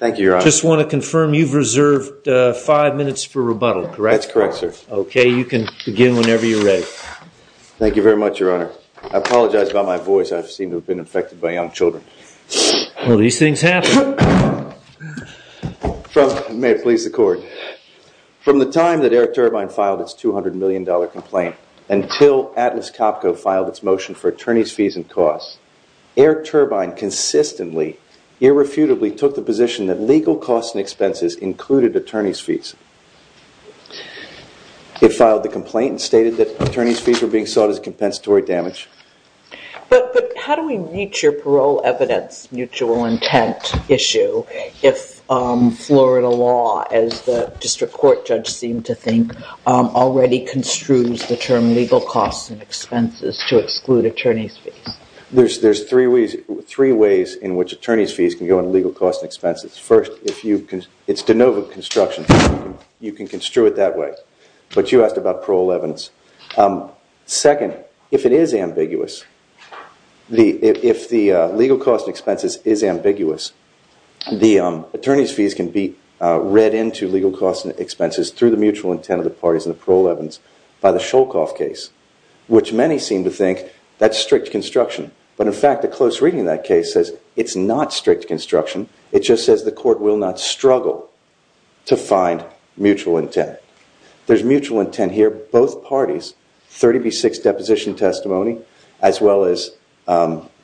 From the time that Air Turbine filed its $200 million complaint until Atlas Copco filed its motion for attorney's fees and costs, Air Turbine consistently, irrefutably took the position that legal costs and expenses included attorney's fees. It filed the complaint and stated that attorney's fees were being sought as compensatory damage. But how do we reach your parole evidence mutual intent issue if Florida law, as the district court judge seemed to think, already construes the term legal costs and expenses to exclude attorney's fees? There's three ways in which attorney's fees can go into legal costs and expenses. First, it's de novo construction. You can construe it that way. But you asked about parole evidence. Second, if it is ambiguous, if the legal costs and expenses is ambiguous, the attorney's fees can be read into legal costs and expenses through the mutual intent of the parties in the parole evidence by the Shulkoff case, which many seem to think that's strict construction. But in fact, a close reading of that case says it's not strict construction. It just says the court will not struggle to find mutual intent. There's mutual intent here. Both parties, 30 v. 6 deposition testimony, as well as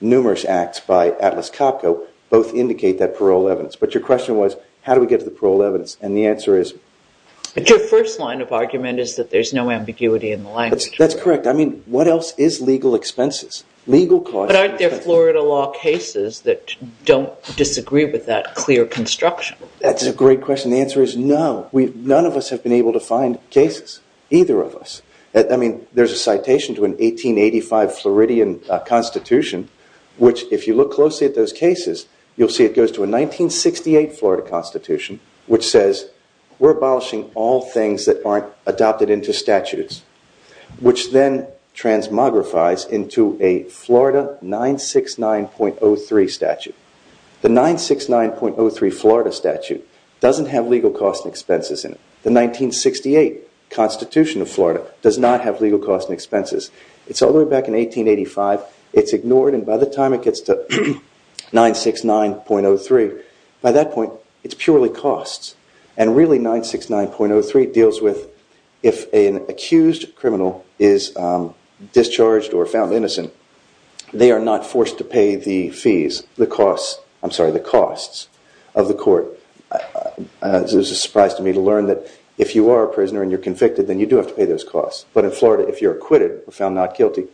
numerous acts by Atlas Copco, both indicate that parole evidence. But your question was, how do we get to the parole evidence? And the answer is... But your first line of argument is that there's no ambiguity in the language. That's correct. I mean, what else is legal expenses? Legal costs... But aren't there Florida law cases that don't disagree with that clear construction? That's a great question. The answer is no. None of us have been able to find cases, either of us. I mean, there's a citation to an 1885 Floridian Constitution, which if you look closely at those cases, you'll see it goes to a 1968 Florida Constitution, which says we're abolishing all things that aren't adopted into statutes, which then transmogrifies into a Florida 969.03 statute. The 969.03 Florida statute doesn't have legal costs and expenses in it. The 1968 Constitution of Florida does not have legal costs and expenses. It's all the way back in 1885. It's ignored. And by the time it gets to 969.03, by that point, it's purely costs. And really, 969.03 deals with if an accused criminal is discharged or found innocent, they are not forced to pay the fees, the costs, I'm sorry, the costs of the court. It was a surprise to me to learn that if you are a prisoner and you're convicted, then you do have to pay those costs. But in Florida, if you're acquitted or found not I apologize,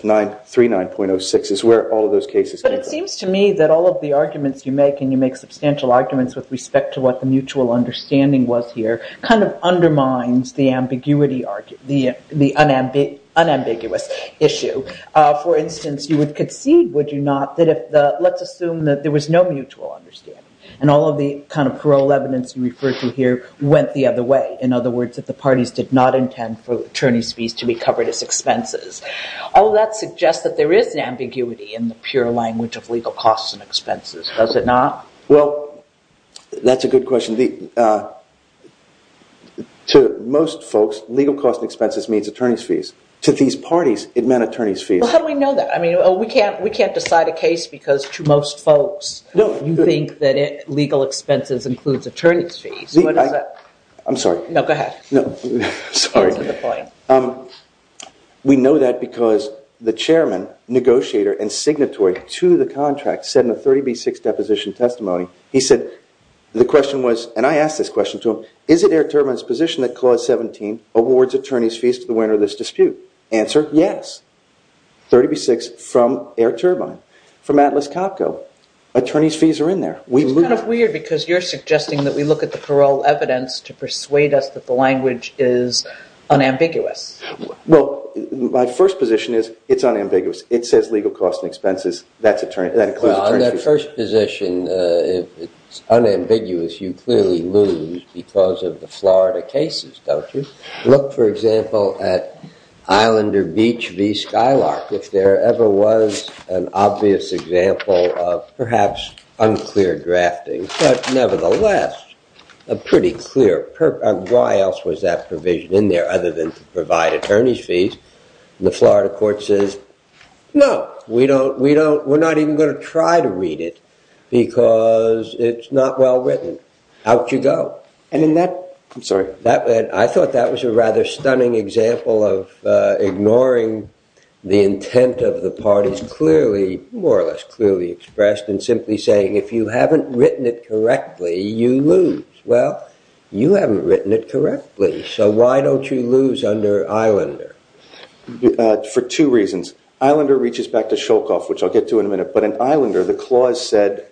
939.06 is where all of those cases- But it seems to me that all of the arguments you make, and you make substantial arguments with respect to what the mutual understanding was here, undermines the ambiguity, the unambiguous issue. For instance, you would concede, would you not, that if the, let's assume that there was no mutual understanding and all of the parole evidence you refer to here went the other way. In other words, that the parties did not intend for attorney's fees to be covered as expenses. All that suggests that there is an ambiguity in the pure language of legal costs and expenses, does it not? Well, that's a good question. To most folks, legal costs and expenses means attorney's fees. To these parties, it meant attorney's fees. Well, how do we know that? I mean, we can't decide a case because to most folks, you think that legal expenses includes attorney's fees. I'm sorry. No, go ahead. We know that because the chairman, negotiator, and signatory to the contract said in the 30B6 deposition testimony, he said the question was, and I asked this question to him, is it Air Turbine's position that Clause 17 awards attorney's fees to the winner of this dispute? Answer, yes. 30B6 from Air Turbine, from Atlas Copco, attorney's fees are in there. It's kind of weird because you're suggesting that we look at the parole evidence to persuade us that the language is unambiguous. Well, my first position is, it's unambiguous. It says legal costs and expenses, that includes attorney's fees. On that first position, it's unambiguous. You clearly lose because of the Florida cases, don't you? Look, for example, at Islander Beach v. Skylark. If there ever was an obvious example of perhaps unclear drafting, but nevertheless, a pretty clear purpose. Why else was that provision in there other than to provide attorney's fees? The Florida court says, no, we're not even going to try to read it because it's not well written. Out you go. I thought that was a rather stunning example of ignoring the intent of the parties, more or less clearly expressed and simply saying, if you haven't written it correctly, you lose. Well, you haven't written it correctly, so why don't you lose under Islander? For two reasons. Islander reaches back to Sholkoff, which I'll get to in a minute. But in Islander, the clause said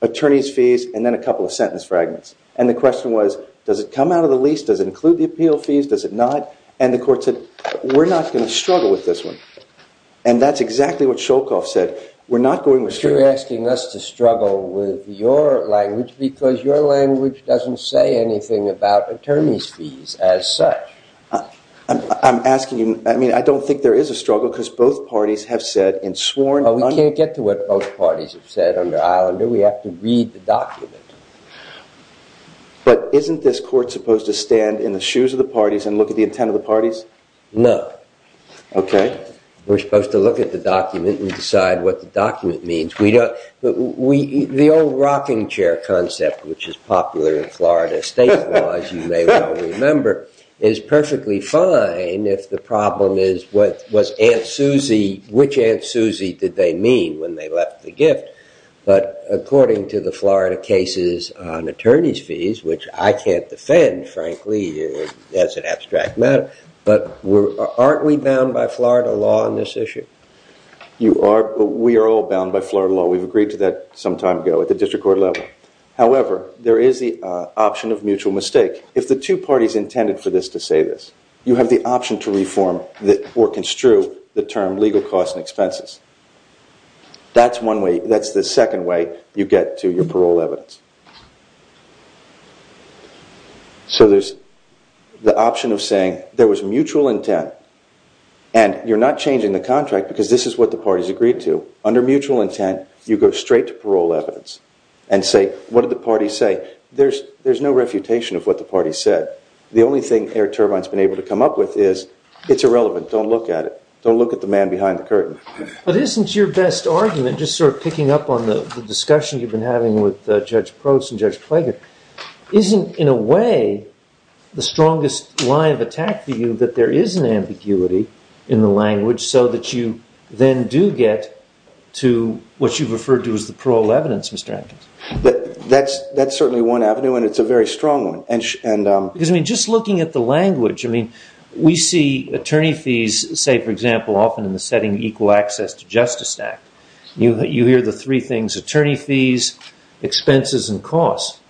attorney's fees and then a couple of sentence fragments. And the question was, does it come out of the lease? Does it include the appeal fees? Does it not? And the court said, we're not going to struggle with this one. And that's exactly what Sholkoff said. We're not going to- You're asking us to struggle with your language because your language doesn't say anything about attorney's fees as such. I'm asking you, I mean, I don't think there is a struggle because both parties have said in sworn- We can't get to what both parties have said under Islander. We have to read the document. But isn't this court supposed to stand in the shoes of the parties and look at the intent of the parties? No. Okay. We're supposed to look at the document and decide what the document means. We don't- The old rocking chair concept, which is popular in Florida state laws, you may well remember, is perfectly fine if the problem is what was Aunt Susie- Which Aunt Susie did they mean when they left the gift? But according to the Florida cases on attorney's fees, which I can't defend, frankly, as an abstract matter, but aren't we bound by Florida law on this issue? You are. We are all bound by Florida law. We've agreed to that some time ago at the district court level. However, there is the option of mutual mistake. If the two parties intended for this to say this, you have the option to reform or construe the term legal costs and expenses. That's one way- That's the second way you get to your parole evidence. So there's the option of saying there was mutual intent and you're not changing the contract because this is what the parties agreed to. Under mutual intent, you go straight to parole evidence and say, what did the party say? There's no refutation of what the party said. The only thing Air Turbine's been able to come up with is it's irrelevant. Don't look at it. Don't look at the man behind the curtain. But isn't your best argument, just sort of picking up on the discussion you've been having with Judge Prost and Judge Klager, isn't, in a way, the strongest line of attack for you that there is an ambiguity in the language so that you then do get to what you've referred to as the parole evidence, Mr. Atkins? That's certainly one avenue and it's a very strong one. Because I mean, just looking at the language, I mean, we see attorney fees, say, for example, often in the setting Equal Access to Justice Act. You hear the three things, attorney fees, expenses, and costs.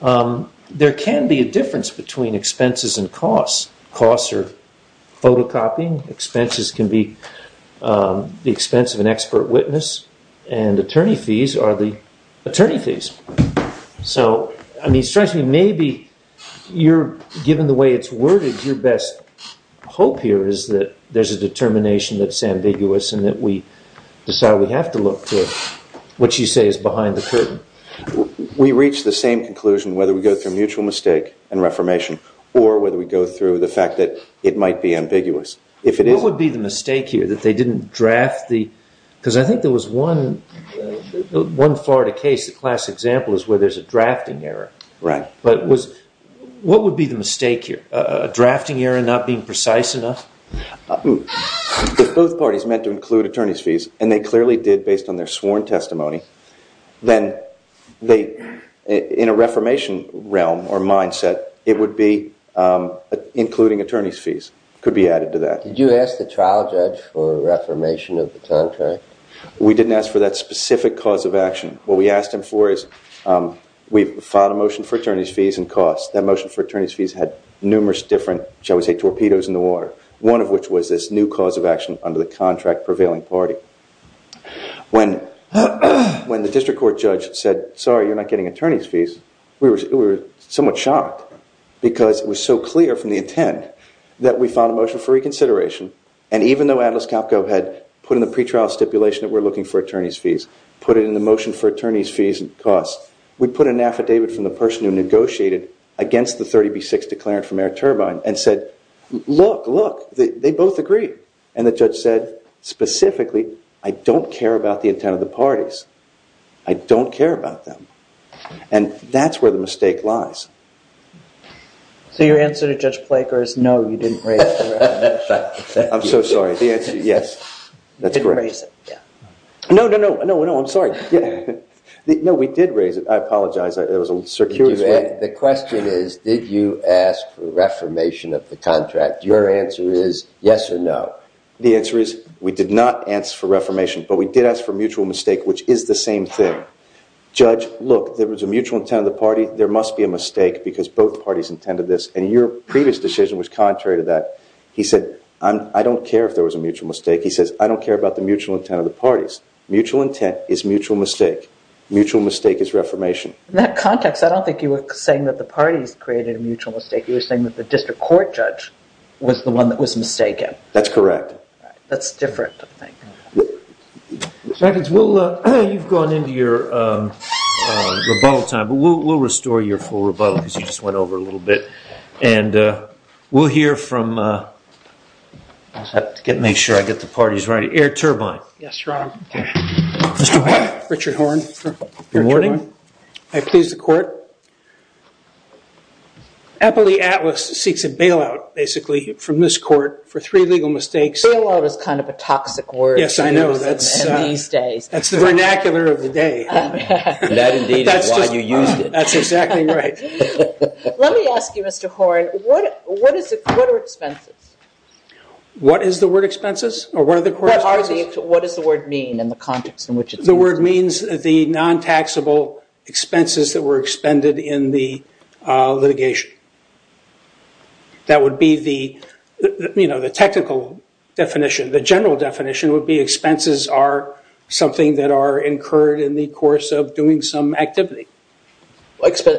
There can be a difference between expenses and costs. Costs are photocopying. Expenses can be the expense of an expert witness. And attorney fees are the attorney fees. So I mean, strangely, maybe you're, given the way it's worded, your best hope here is that there's a determination that's ambiguous and that we decide we have to look to what you say is behind the curtain. We reach the same conclusion whether we go through mutual mistake and reformation or whether we go through the fact that it might be ambiguous. What would be the mistake here, that they didn't draft the, because I think there was one Florida case, the classic example, is where there's a drafting error. Right. But what would be the mistake here? A drafting error not being precise enough? If both parties meant to include attorney fees, and they clearly did based on their sworn testimony, then they, in a reformation realm or mindset, it would be including attorney fees could be added to that. Did you ask the trial judge for reformation of the contract? We didn't ask for that specific cause of action. What we asked him for is we filed a motion for attorney fees and one of which was this new cause of action under the contract prevailing party. When the district court judge said, sorry, you're not getting attorney's fees, we were somewhat shocked because it was so clear from the intent that we found a motion for reconsideration and even though Atlas Capco had put in the pre-trial stipulation that we're looking for attorney's fees, put it in the motion for attorney's fees and costs, we put an affidavit from the person who negotiated against the 30B6 declarant from Air Turbine and said, look, look, they both agree. And the judge said, specifically, I don't care about the intent of the parties. I don't care about them. And that's where the mistake lies. So your answer to Judge Planker is no, you didn't raise it. I'm so sorry, the answer is yes. You didn't raise it. No, no, no, I'm sorry. No, we did raise it. I apologize. The question is, did you ask for reformation of the contract? Your answer is yes or no. The answer is we did not answer for reformation, but we did ask for mutual mistake, which is the same thing. Judge, look, there was a mutual intent of the party. There must be a mistake because both parties intended this. And your previous decision was contrary to that. He said, I don't care if there was a mutual mistake. He says, I don't care about the mutual intent of the parties. Mutual intent is mutual mistake. Mutual mistake is reformation. In that context, I don't think you were saying that the parties created a mutual mistake. You were saying that the district court judge was the one that was mistaken. That's correct. That's different, I think. You've gone into your rebuttal time, but we'll restore your full rebuttal because you just went over a little bit. And we'll hear from, I have to make sure I get the parties right, Air Turbine. Yes, Your Honor. Mr. Horne. Richard Horne. I please the court. Eppley Atlas seeks a bailout, basically, from this court for three legal mistakes. Bailout is kind of a toxic word. Yes, I know. That's the vernacular of the day. That indeed is why you used it. That's exactly right. Let me ask you, Mr. Horne, what are expenses? What is the word expenses? Or what are the words mean in the context in which it's used? The word means the non-taxable expenses that were expended in the litigation. That would be the technical definition. The general definition would be expenses are something that are incurred in the course of doing some activity.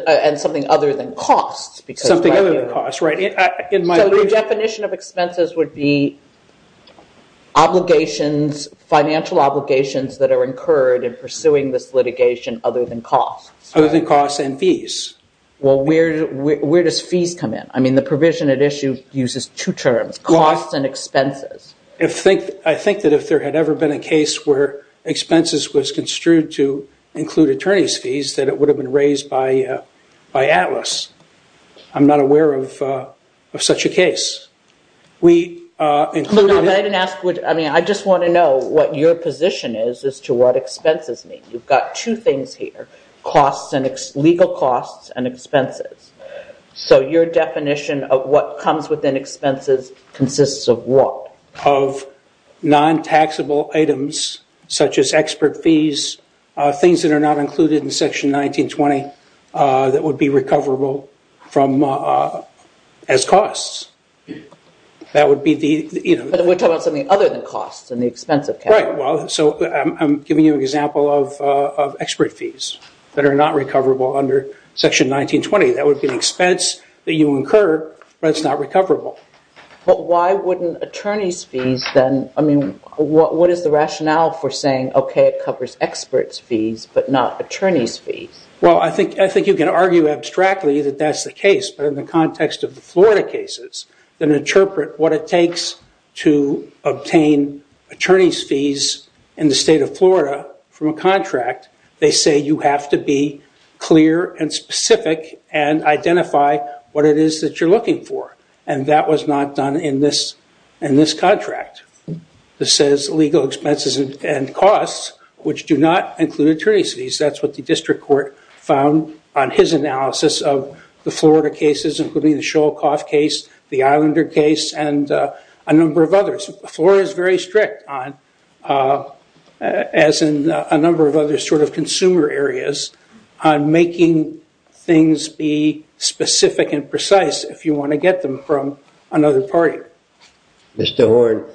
And something other than costs. Something other than costs, right. So the definition of expenses would be financial obligations that are incurred in pursuing this litigation other than costs. Other than costs and fees. Well, where does fees come in? I mean, the provision at issue uses two terms, costs and expenses. I think that if there had ever been a case where expenses was construed to include attorney's fees, that it would have been raised by Atlas. I'm not aware of such a case. I just want to know what your position is as to what expenses mean. You've got two things here. Legal costs and expenses. So your definition of what comes within expenses consists of what? Of non-taxable items such as expert fees, things that are not included in section 1920 that would be recoverable as costs. That would be the, you know. But we're talking about something other than costs and the expense of capital. Right. So I'm giving you an example of expert fees that are not recoverable under section 1920. That would be an expense that you incur, but it's not recoverable. But why wouldn't attorney's fees then? I mean, what is the rationale for saying, okay, it covers expert's fees, but not attorney's fees? Well, I think you can argue abstractly that that's the case. But in the context of the Florida cases, then interpret what it takes to obtain attorney's fees in the state of Florida from a contract. They say you have to be clear and specific and identify what it is that you're looking for. And that was not done in this contract. This says legal expenses and costs, which do not include attorney's fees. That's what the district court found on his analysis of the Florida cases, including the Shoal Cough case, the Islander case, and a number of others. Florida is very strict on, as in a number of other sort of consumer areas, on making things be specific and precise if you want to get them from another party. Mr. Horne,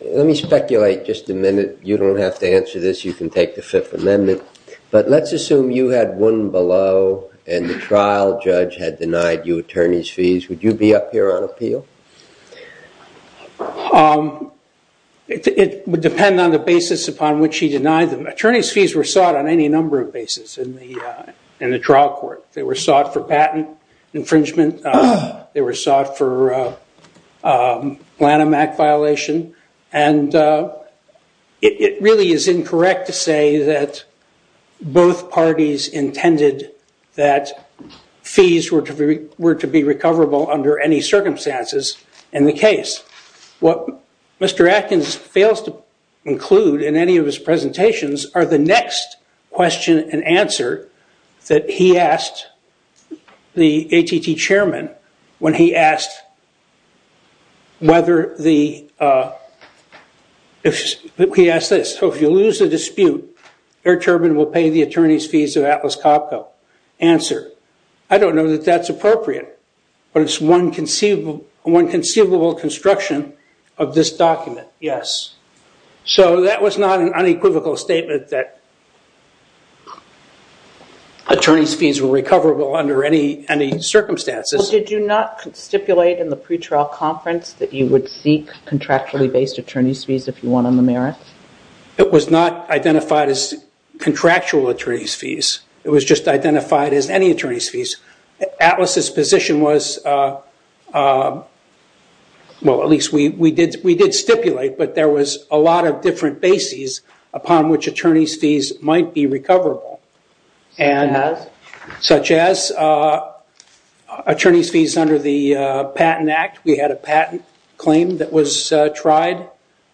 let me speculate just a minute. You don't have to answer this. You can take the Fifth Amendment. But let's assume you had one below and the trial judge had denied you attorney's fees. Would you be up here on appeal? It would depend on the basis upon which denied them. Attorney's fees were sought on any number of basis in the trial court. They were sought for patent infringement. They were sought for Lanham Act violation. And it really is incorrect to say that both parties intended that fees were to be recoverable under any circumstances in the case. What Mr. Atkins fails to include in any of his presentations are the next question and answer that he asked the ATT chairman when he asked whether the, he asked this, so if you lose the dispute, Air Turbine will pay the attorney's fees of Atlas Copco. Answer, I don't know that that's appropriate. But it's one conceivable construction of this document, yes. So that was not an unequivocal statement that attorney's fees were recoverable under any circumstances. Did you not stipulate in the pretrial conference that you would seek contractually based attorney's fees if you want on the merits? It was not identified as contractual attorney's fees. It was just any attorney's fees. Atlas' position was, well, at least we did stipulate, but there was a lot of different bases upon which attorney's fees might be recoverable. Such as? Such as attorney's fees under the Patent Act. We had a patent claim that was tried,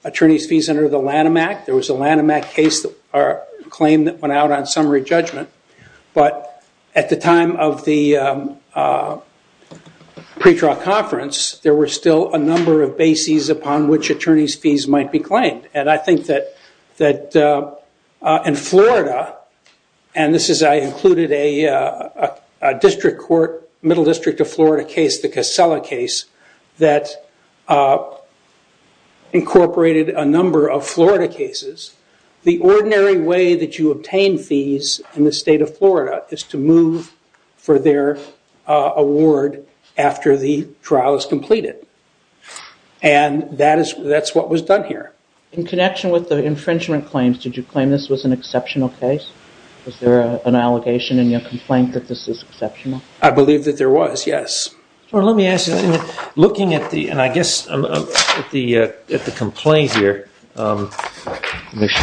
attorney's fees under the Lanham Act. There was a Lanham Act case or claim that went out on summary judgment. But at the time of the pretrial conference, there were still a number of bases upon which attorney's fees might be claimed. And I think that in Florida, and this is, I included a district court, middle district of Florida case, the Casella case, that incorporated a number of Florida cases. The ordinary way that you obtain fees in the state of Florida is to move for their award after the trial is completed. And that's what was done here. In connection with the infringement claims, did you claim this was an exceptional case? Was there an allegation in your complaint that this is exceptional? I believe that there was, yes. Well, let me make sure I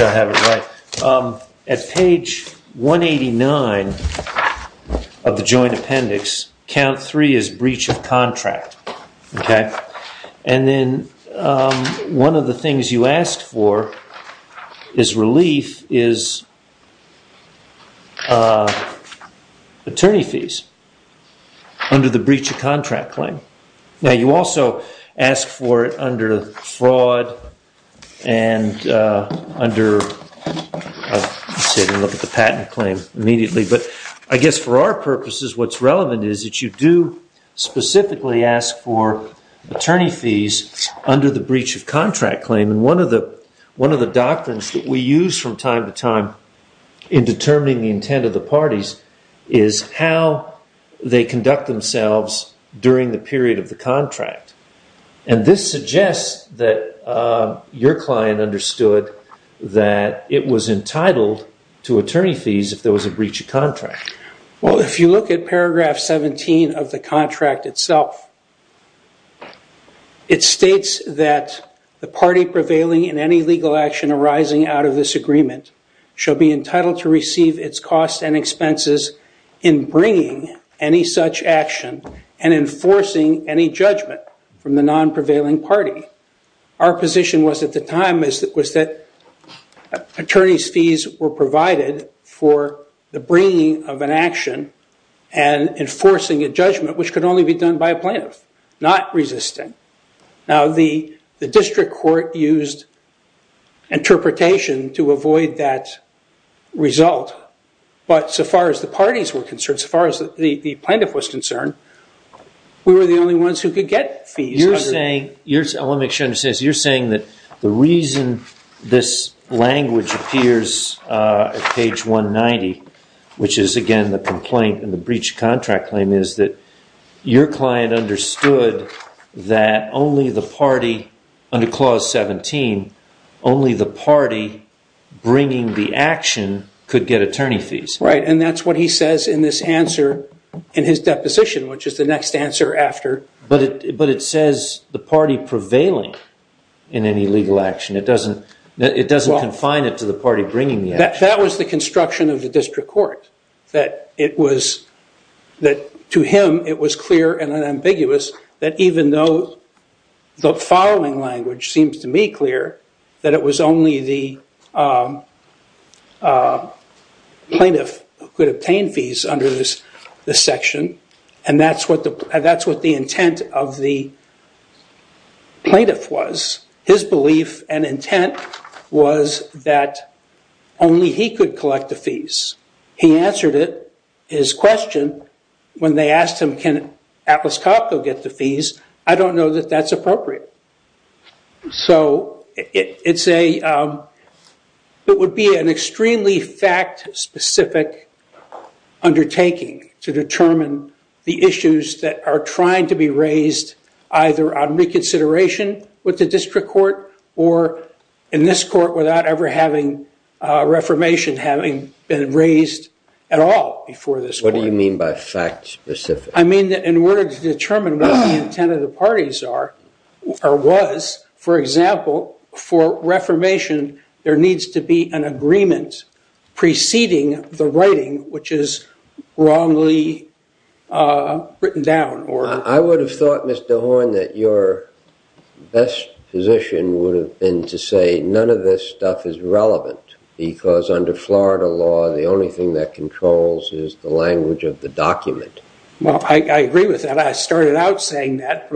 have it right. At page 189 of the joint appendix, count three is breach of contract. Okay. And then one of the things you asked for is relief is attorney fees under the breach of contract claim. Now you also ask for it under fraud and under, let's look at the patent claim immediately. But I guess for our purposes, what's relevant is that you do specifically ask for attorney fees under the breach of contract claim. And one of the doctrines that we use from time to time in determining the intent of the parties is how they conduct themselves during the period of the contract. And this your client understood that it was entitled to attorney fees if there was a breach of contract. Well, if you look at paragraph 17 of the contract itself, it states that the party prevailing in any legal action arising out of this agreement shall be entitled to receive its costs and expenses in bringing any such action and enforcing any judgment from the non-prevailing party. Our position was at the time was that attorney's fees were provided for the bringing of an action and enforcing a judgment, which could only be done by a plaintiff, not resisting. Now the district court used interpretation to avoid that result. But so far as the parties were concerned, as far as the plaintiff was concerned, we were the only ones who could get fees. You're saying, I want to make sure I understand this, you're saying that the reason this language appears at page 190, which is again the complaint and the breach of contract claim is that your client understood that only the party under clause 17, only the party bringing the action could get attorney fees. Right. And that's what he says in this answer in his deposition, which is the next answer after. But it says the party prevailing in any legal action. It doesn't confine it to the party bringing the action. That was the construction of the district court, that to him it was clear and unambiguous that even though the following language seems to be clear, that it was only the the section. And that's what the intent of the plaintiff was. His belief and intent was that only he could collect the fees. He answered it, his question, when they asked him can Atlas Copco get the fees, I don't know that that's appropriate. So it would be an extremely fact specific undertaking to determine the issues that are trying to be raised either on reconsideration with the district court or in this court without ever having reformation having been raised at all before this. What do you mean by fact specific? I mean that in order to determine what the intent of the parties are or was, for example, for reformation there needs to be an agreement preceding the writing which is wrongly written down. I would have thought Mr. Horn that your best position would have been to say none of this stuff is relevant because under Florida law the only thing that controls is the language of the document. Well I agree with that. I started out saying that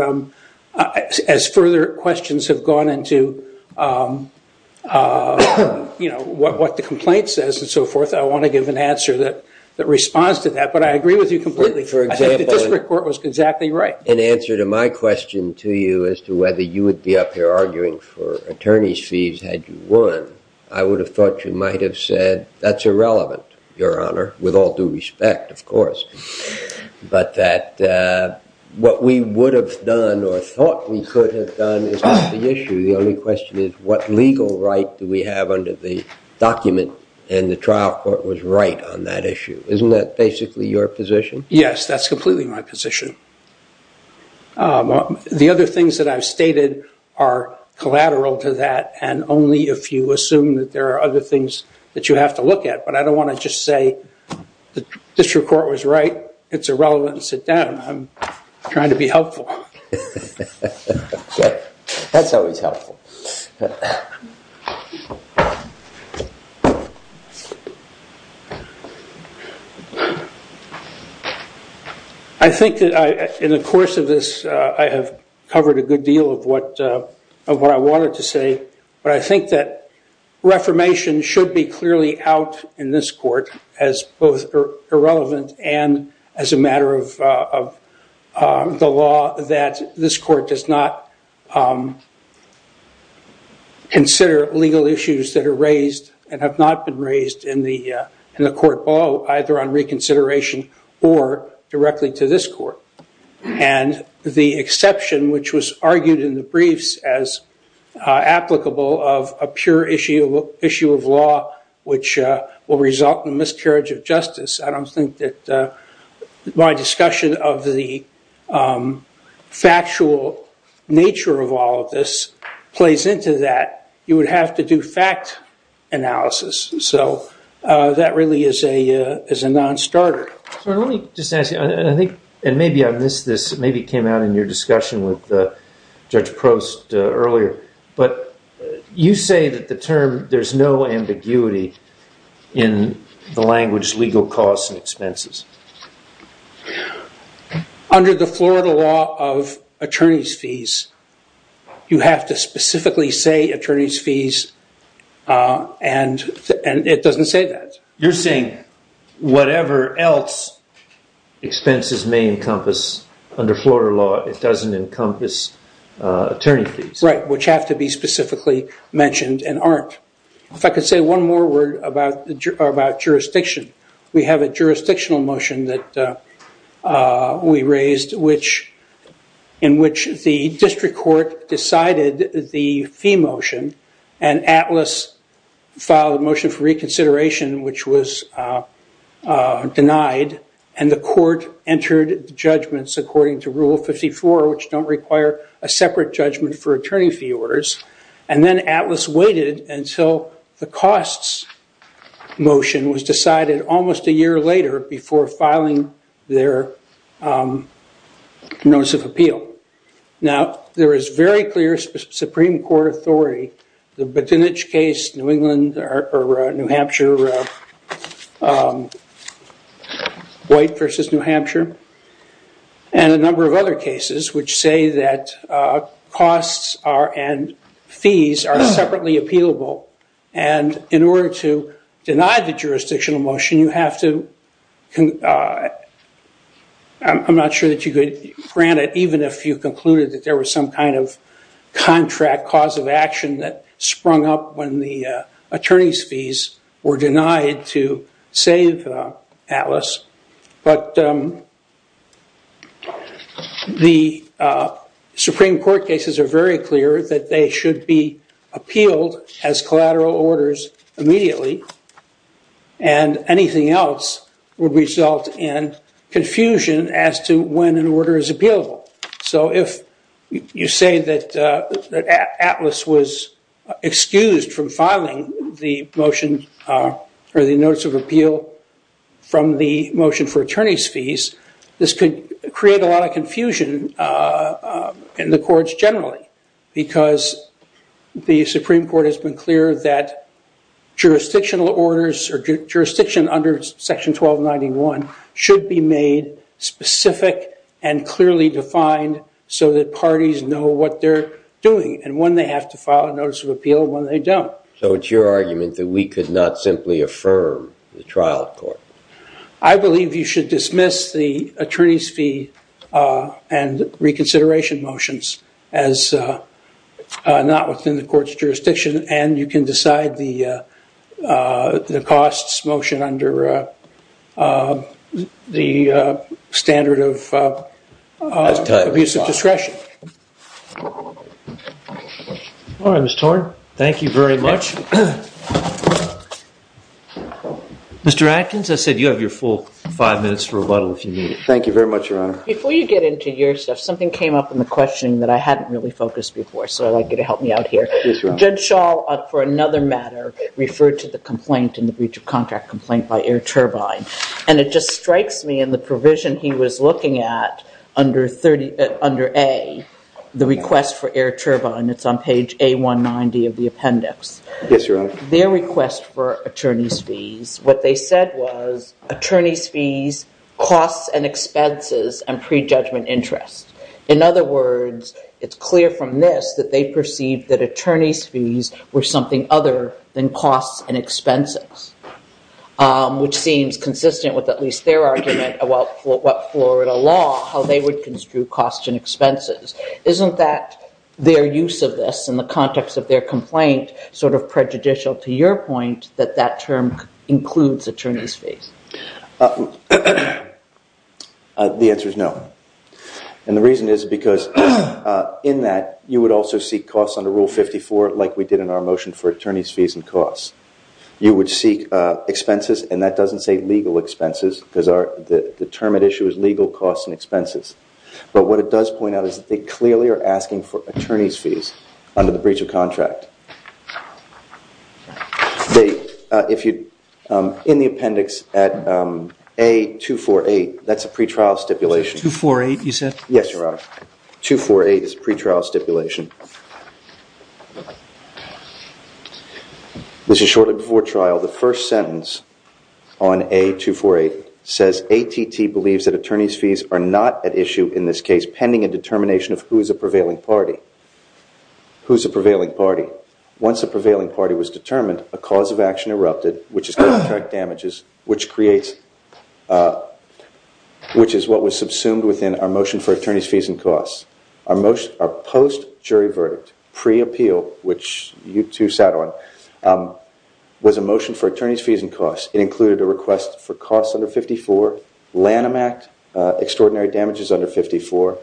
as further questions have gone into what the complaint says and so forth, I want to give an answer that responds to that. But I agree with you completely. I think the district court was exactly right. In answer to my question to you as to whether you would be up here arguing for attorney's fees had you won, I would have thought you might have said that's irrelevant, your honor, with all due respect, of course. But that what we would have done or thought we could have done is not the issue. The only question is what legal right do we have under the document and the trial court was right on that issue. Isn't that basically your position? Yes, that's completely my position. The other things that I've stated are collateral to that and only if you assume that there are other things that you have to look at. But I don't want to just say the district court was right, it's irrelevant, sit down. I'm trying to be helpful. That's always helpful. I think that in the course of this I have covered a good deal of what I wanted to say. But I think that reformation should be clearly out in this court as both irrelevant and as a matter of the law that this court does not consider legal issues that are raised and have not been raised in the court below either on reconsideration or directly to this court. And the exception which was argued in the briefs as applicable of a pure issue of law which will result in miscarriage of justice. I don't think that my discussion of the factual nature of all of this plays into that. You would have to do fact analysis. So that really is a non-starter. Let me just ask you, and maybe I missed this, maybe it came out in your discussion with Judge Prost earlier, but you say that the term, there's no ambiguity in the language legal costs and expenses. Under the Florida law of attorney's fees, you have to specifically say attorney's fees and it doesn't say that. You're saying whatever else expenses may encompass under Florida law, it doesn't encompass attorney fees. Right, which have to be specifically mentioned and aren't. If I could say one more word about jurisdiction. We have a jurisdictional motion that we raised in which the district court decided the fee motion and Atlas filed a motion for reconsideration which was denied and the court entered judgments according to rule 54 which don't require a separate judgment for attorney fee orders. And then Atlas waited until the costs motion was decided almost a year later before filing their notice of appeal. Now, there is very clear Supreme Court authority, the Bottinich case, New England or New Hampshire, White versus New Hampshire, and a number of other cases which say that costs and fees are appealable. And in order to deny the jurisdictional motion, you have to, I'm not sure that you could grant it even if you concluded that there was some kind of contract cause of action that sprung up when the attorney's fees were denied to save Atlas. But the Supreme Court cases are very clear that they should be appealed as collateral orders immediately. And anything else would result in confusion as to when an order is appealable. So, if you say that Atlas was excused from filing the motion or the notice of appeal from the motion for attorney's fees, this could create a lot of confusion in the courts generally because the Supreme Court has been clear that jurisdictional orders or jurisdiction under section 1291 should be made specific and clearly defined so that parties know what they're doing and when they have to file a notice of appeal and when they don't. So, it's your argument that we could not simply affirm the trial court. I believe you should dismiss the attorney's fee and reconsideration motions as not within the court's jurisdiction and you can decide the costs motion under the standard of abuse of discretion. All right, Mr. Torn. Thank you very much. Mr. Atkins, I said you have your full five minutes for rebuttal if you need it. Thank you very much, Your Honor. Before you get into your stuff, something came up in the questioning that I hadn't really focused before. So, I'd like you to help me out here. Judge Schall, for another matter, referred to the complaint in the breach of contract complaint by Air Turbine. And it just strikes me in the request for Air Turbine, it's on page A190 of the appendix. Yes, Your Honor. Their request for attorney's fees, what they said was attorney's fees, costs and expenses, and prejudgment interest. In other words, it's clear from this that they perceived that attorney's fees were something other than costs and expenses, which seems consistent with at least their Isn't that their use of this in the context of their complaint sort of prejudicial to your point that that term includes attorney's fees? The answer is no. And the reason is because in that, you would also seek costs under Rule 54, like we did in our motion for attorney's fees and costs. You would seek expenses, and that doesn't say legal expenses, because the term at issue is legal costs and expenses. But what it does point out is that they clearly are asking for attorney's fees under the breach of contract. In the appendix at A248, that's a pretrial stipulation. 248, you said? Yes, Your Honor. 248 is a pretrial stipulation. This is shortly before trial. The first sentence on A248 says ATT believes that attorney's fees are not at issue in this case pending a determination of who is a prevailing party. Once a prevailing party was determined, a cause of action erupted, which is contract damages, which is what was subsumed within our motion for attorney's fees and costs. Our post-jury verdict, pre-appeal, which you two sat on, was a motion for attorney's fees and costs. It included a request for costs under 54, Lanham Act, extraordinary damages under 54,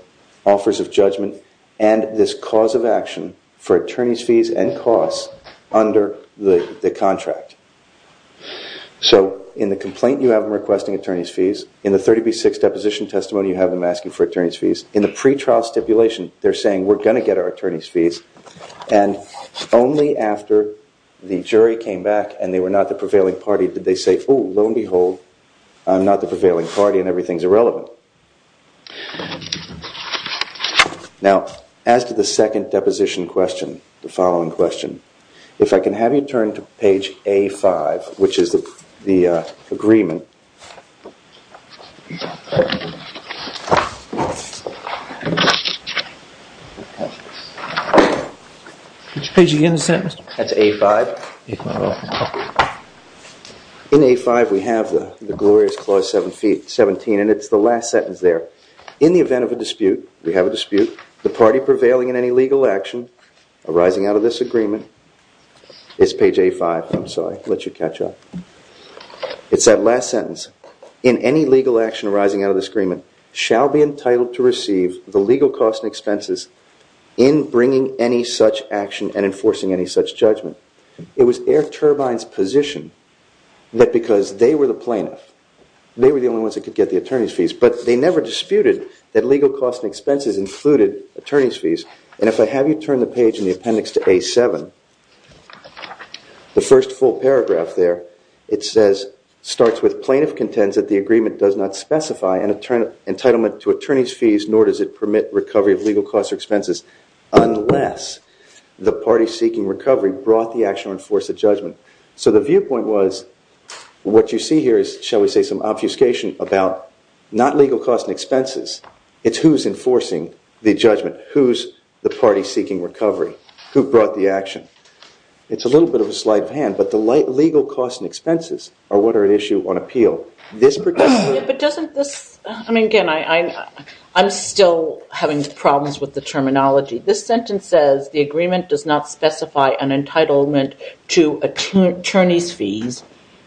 offers of judgment, and this cause of action for attorney's fees and costs under the contract. So in the complaint, you have them requesting attorney's fees. In the 30B6 deposition testimony, you have them asking for attorney's fees. In the pretrial stipulation, they're saying we're going to get our attorney's fees. And only after the jury came back and they were not the prevailing party did they say, oh, lo and behold, I'm not the prevailing party and everything's irrelevant. Now, as to the second deposition question, the following question, if I can have you turn to page A5, which is the agreement. Which page are you in the sentence? That's A5. In A5, we have the glorious clause 17, and it's the last sentence there. In the event of a dispute, we have a dispute, the party prevailing in any legal action arising out of this agreement, it's page A5, I'm sorry, I'll let you catch up. It's that last sentence. In any legal action arising out of this agreement, shall be entitled to receive the legal costs and expenses in bringing any such action and enforcing any such judgment. It was Air Turbine's position that because they were the plaintiff, they were the only ones that could get the attorney's fees, but they never disputed that legal costs and expenses included attorney's fees. And if I have you turn the page in the appendix to A7, the first full paragraph there, it says, starts with plaintiff contends that the agreement does not specify an entitlement to attorney's fees, nor does it permit recovery of legal costs or expenses, unless the party seeking recovery brought the action or enforced the judgment. So the viewpoint was, what you see here is, shall we say, some obfuscation about not legal costs and expenses, it's who's enforcing the judgment, who's the party seeking recovery. Who brought the action? It's a little bit of a slight pan, but the legal costs and expenses are what are at issue on appeal. This particular... But doesn't this... I mean, again, I'm still having problems with the terminology. This sentence says, the agreement does not specify an entitlement to attorney's fees,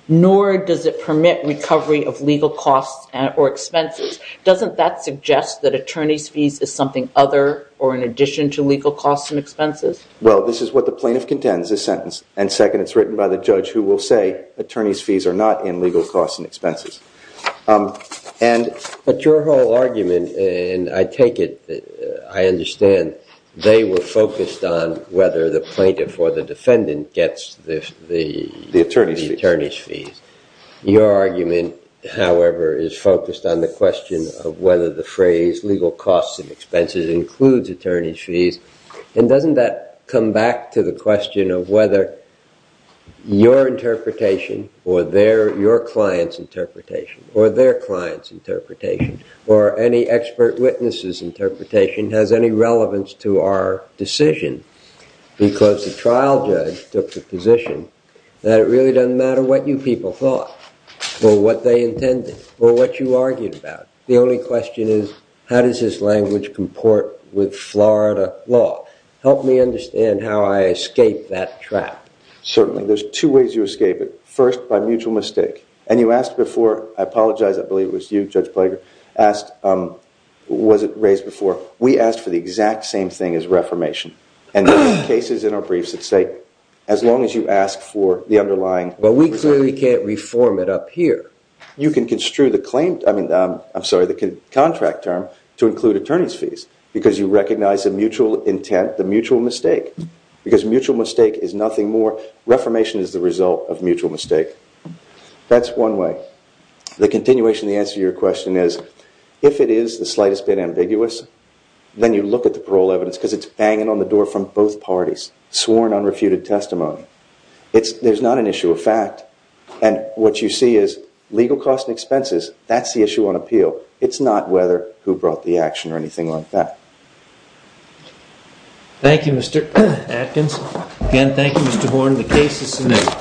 nor does it permit recovery of legal costs or expenses. Doesn't that suggest that attorney's fees is something other or in addition to legal costs and expenses? Well, this is what the plaintiff contends, this sentence. And second, it's written by the judge who will say, attorney's fees are not in legal costs and expenses. And... But your whole argument, and I take it, I understand they were focused on whether the plaintiff or the defendant gets the attorney's fees. Your argument, however, is focused on the question of whether the phrase legal costs and expenses includes attorney's fees. And doesn't that come back to the question of whether your interpretation or their... Your client's interpretation or their client's interpretation or any expert witness's interpretation has any relevance to our decision? Because the trial judge took the position that it really doesn't matter what you people thought, or what they intended, or what you argued about. The only question is, how does this language comport with Florida law? Help me understand how I escape that trap. Certainly. There's two ways you escape it. First, by mutual mistake. And you asked before, I apologize, I believe it was you, Judge Plager, asked, was it raised before, we asked for the exact same thing as reformation. And there are cases in our briefs that say, as long as you ask for the underlying... But we clearly can't reform it up here. You can construe the claim, I mean, I'm sorry, the contract term to include attorney's fees, because you recognize a mutual intent, the mutual mistake. Because mutual mistake is nothing more, reformation is the result of mutual mistake. That's one way. The continuation of the answer to your question is, if it is the slightest bit ambiguous, then you look at the parole evidence, because it's banging on the door from both parties, sworn unrefuted testimony. There's not an issue of fact. And what you see is, legal costs and expenses, that's the issue on appeal. It's not whether who brought the action or anything like that. Thank you, Mr. Atkins. Again, thank you, Mr. Horne. The case is submitted.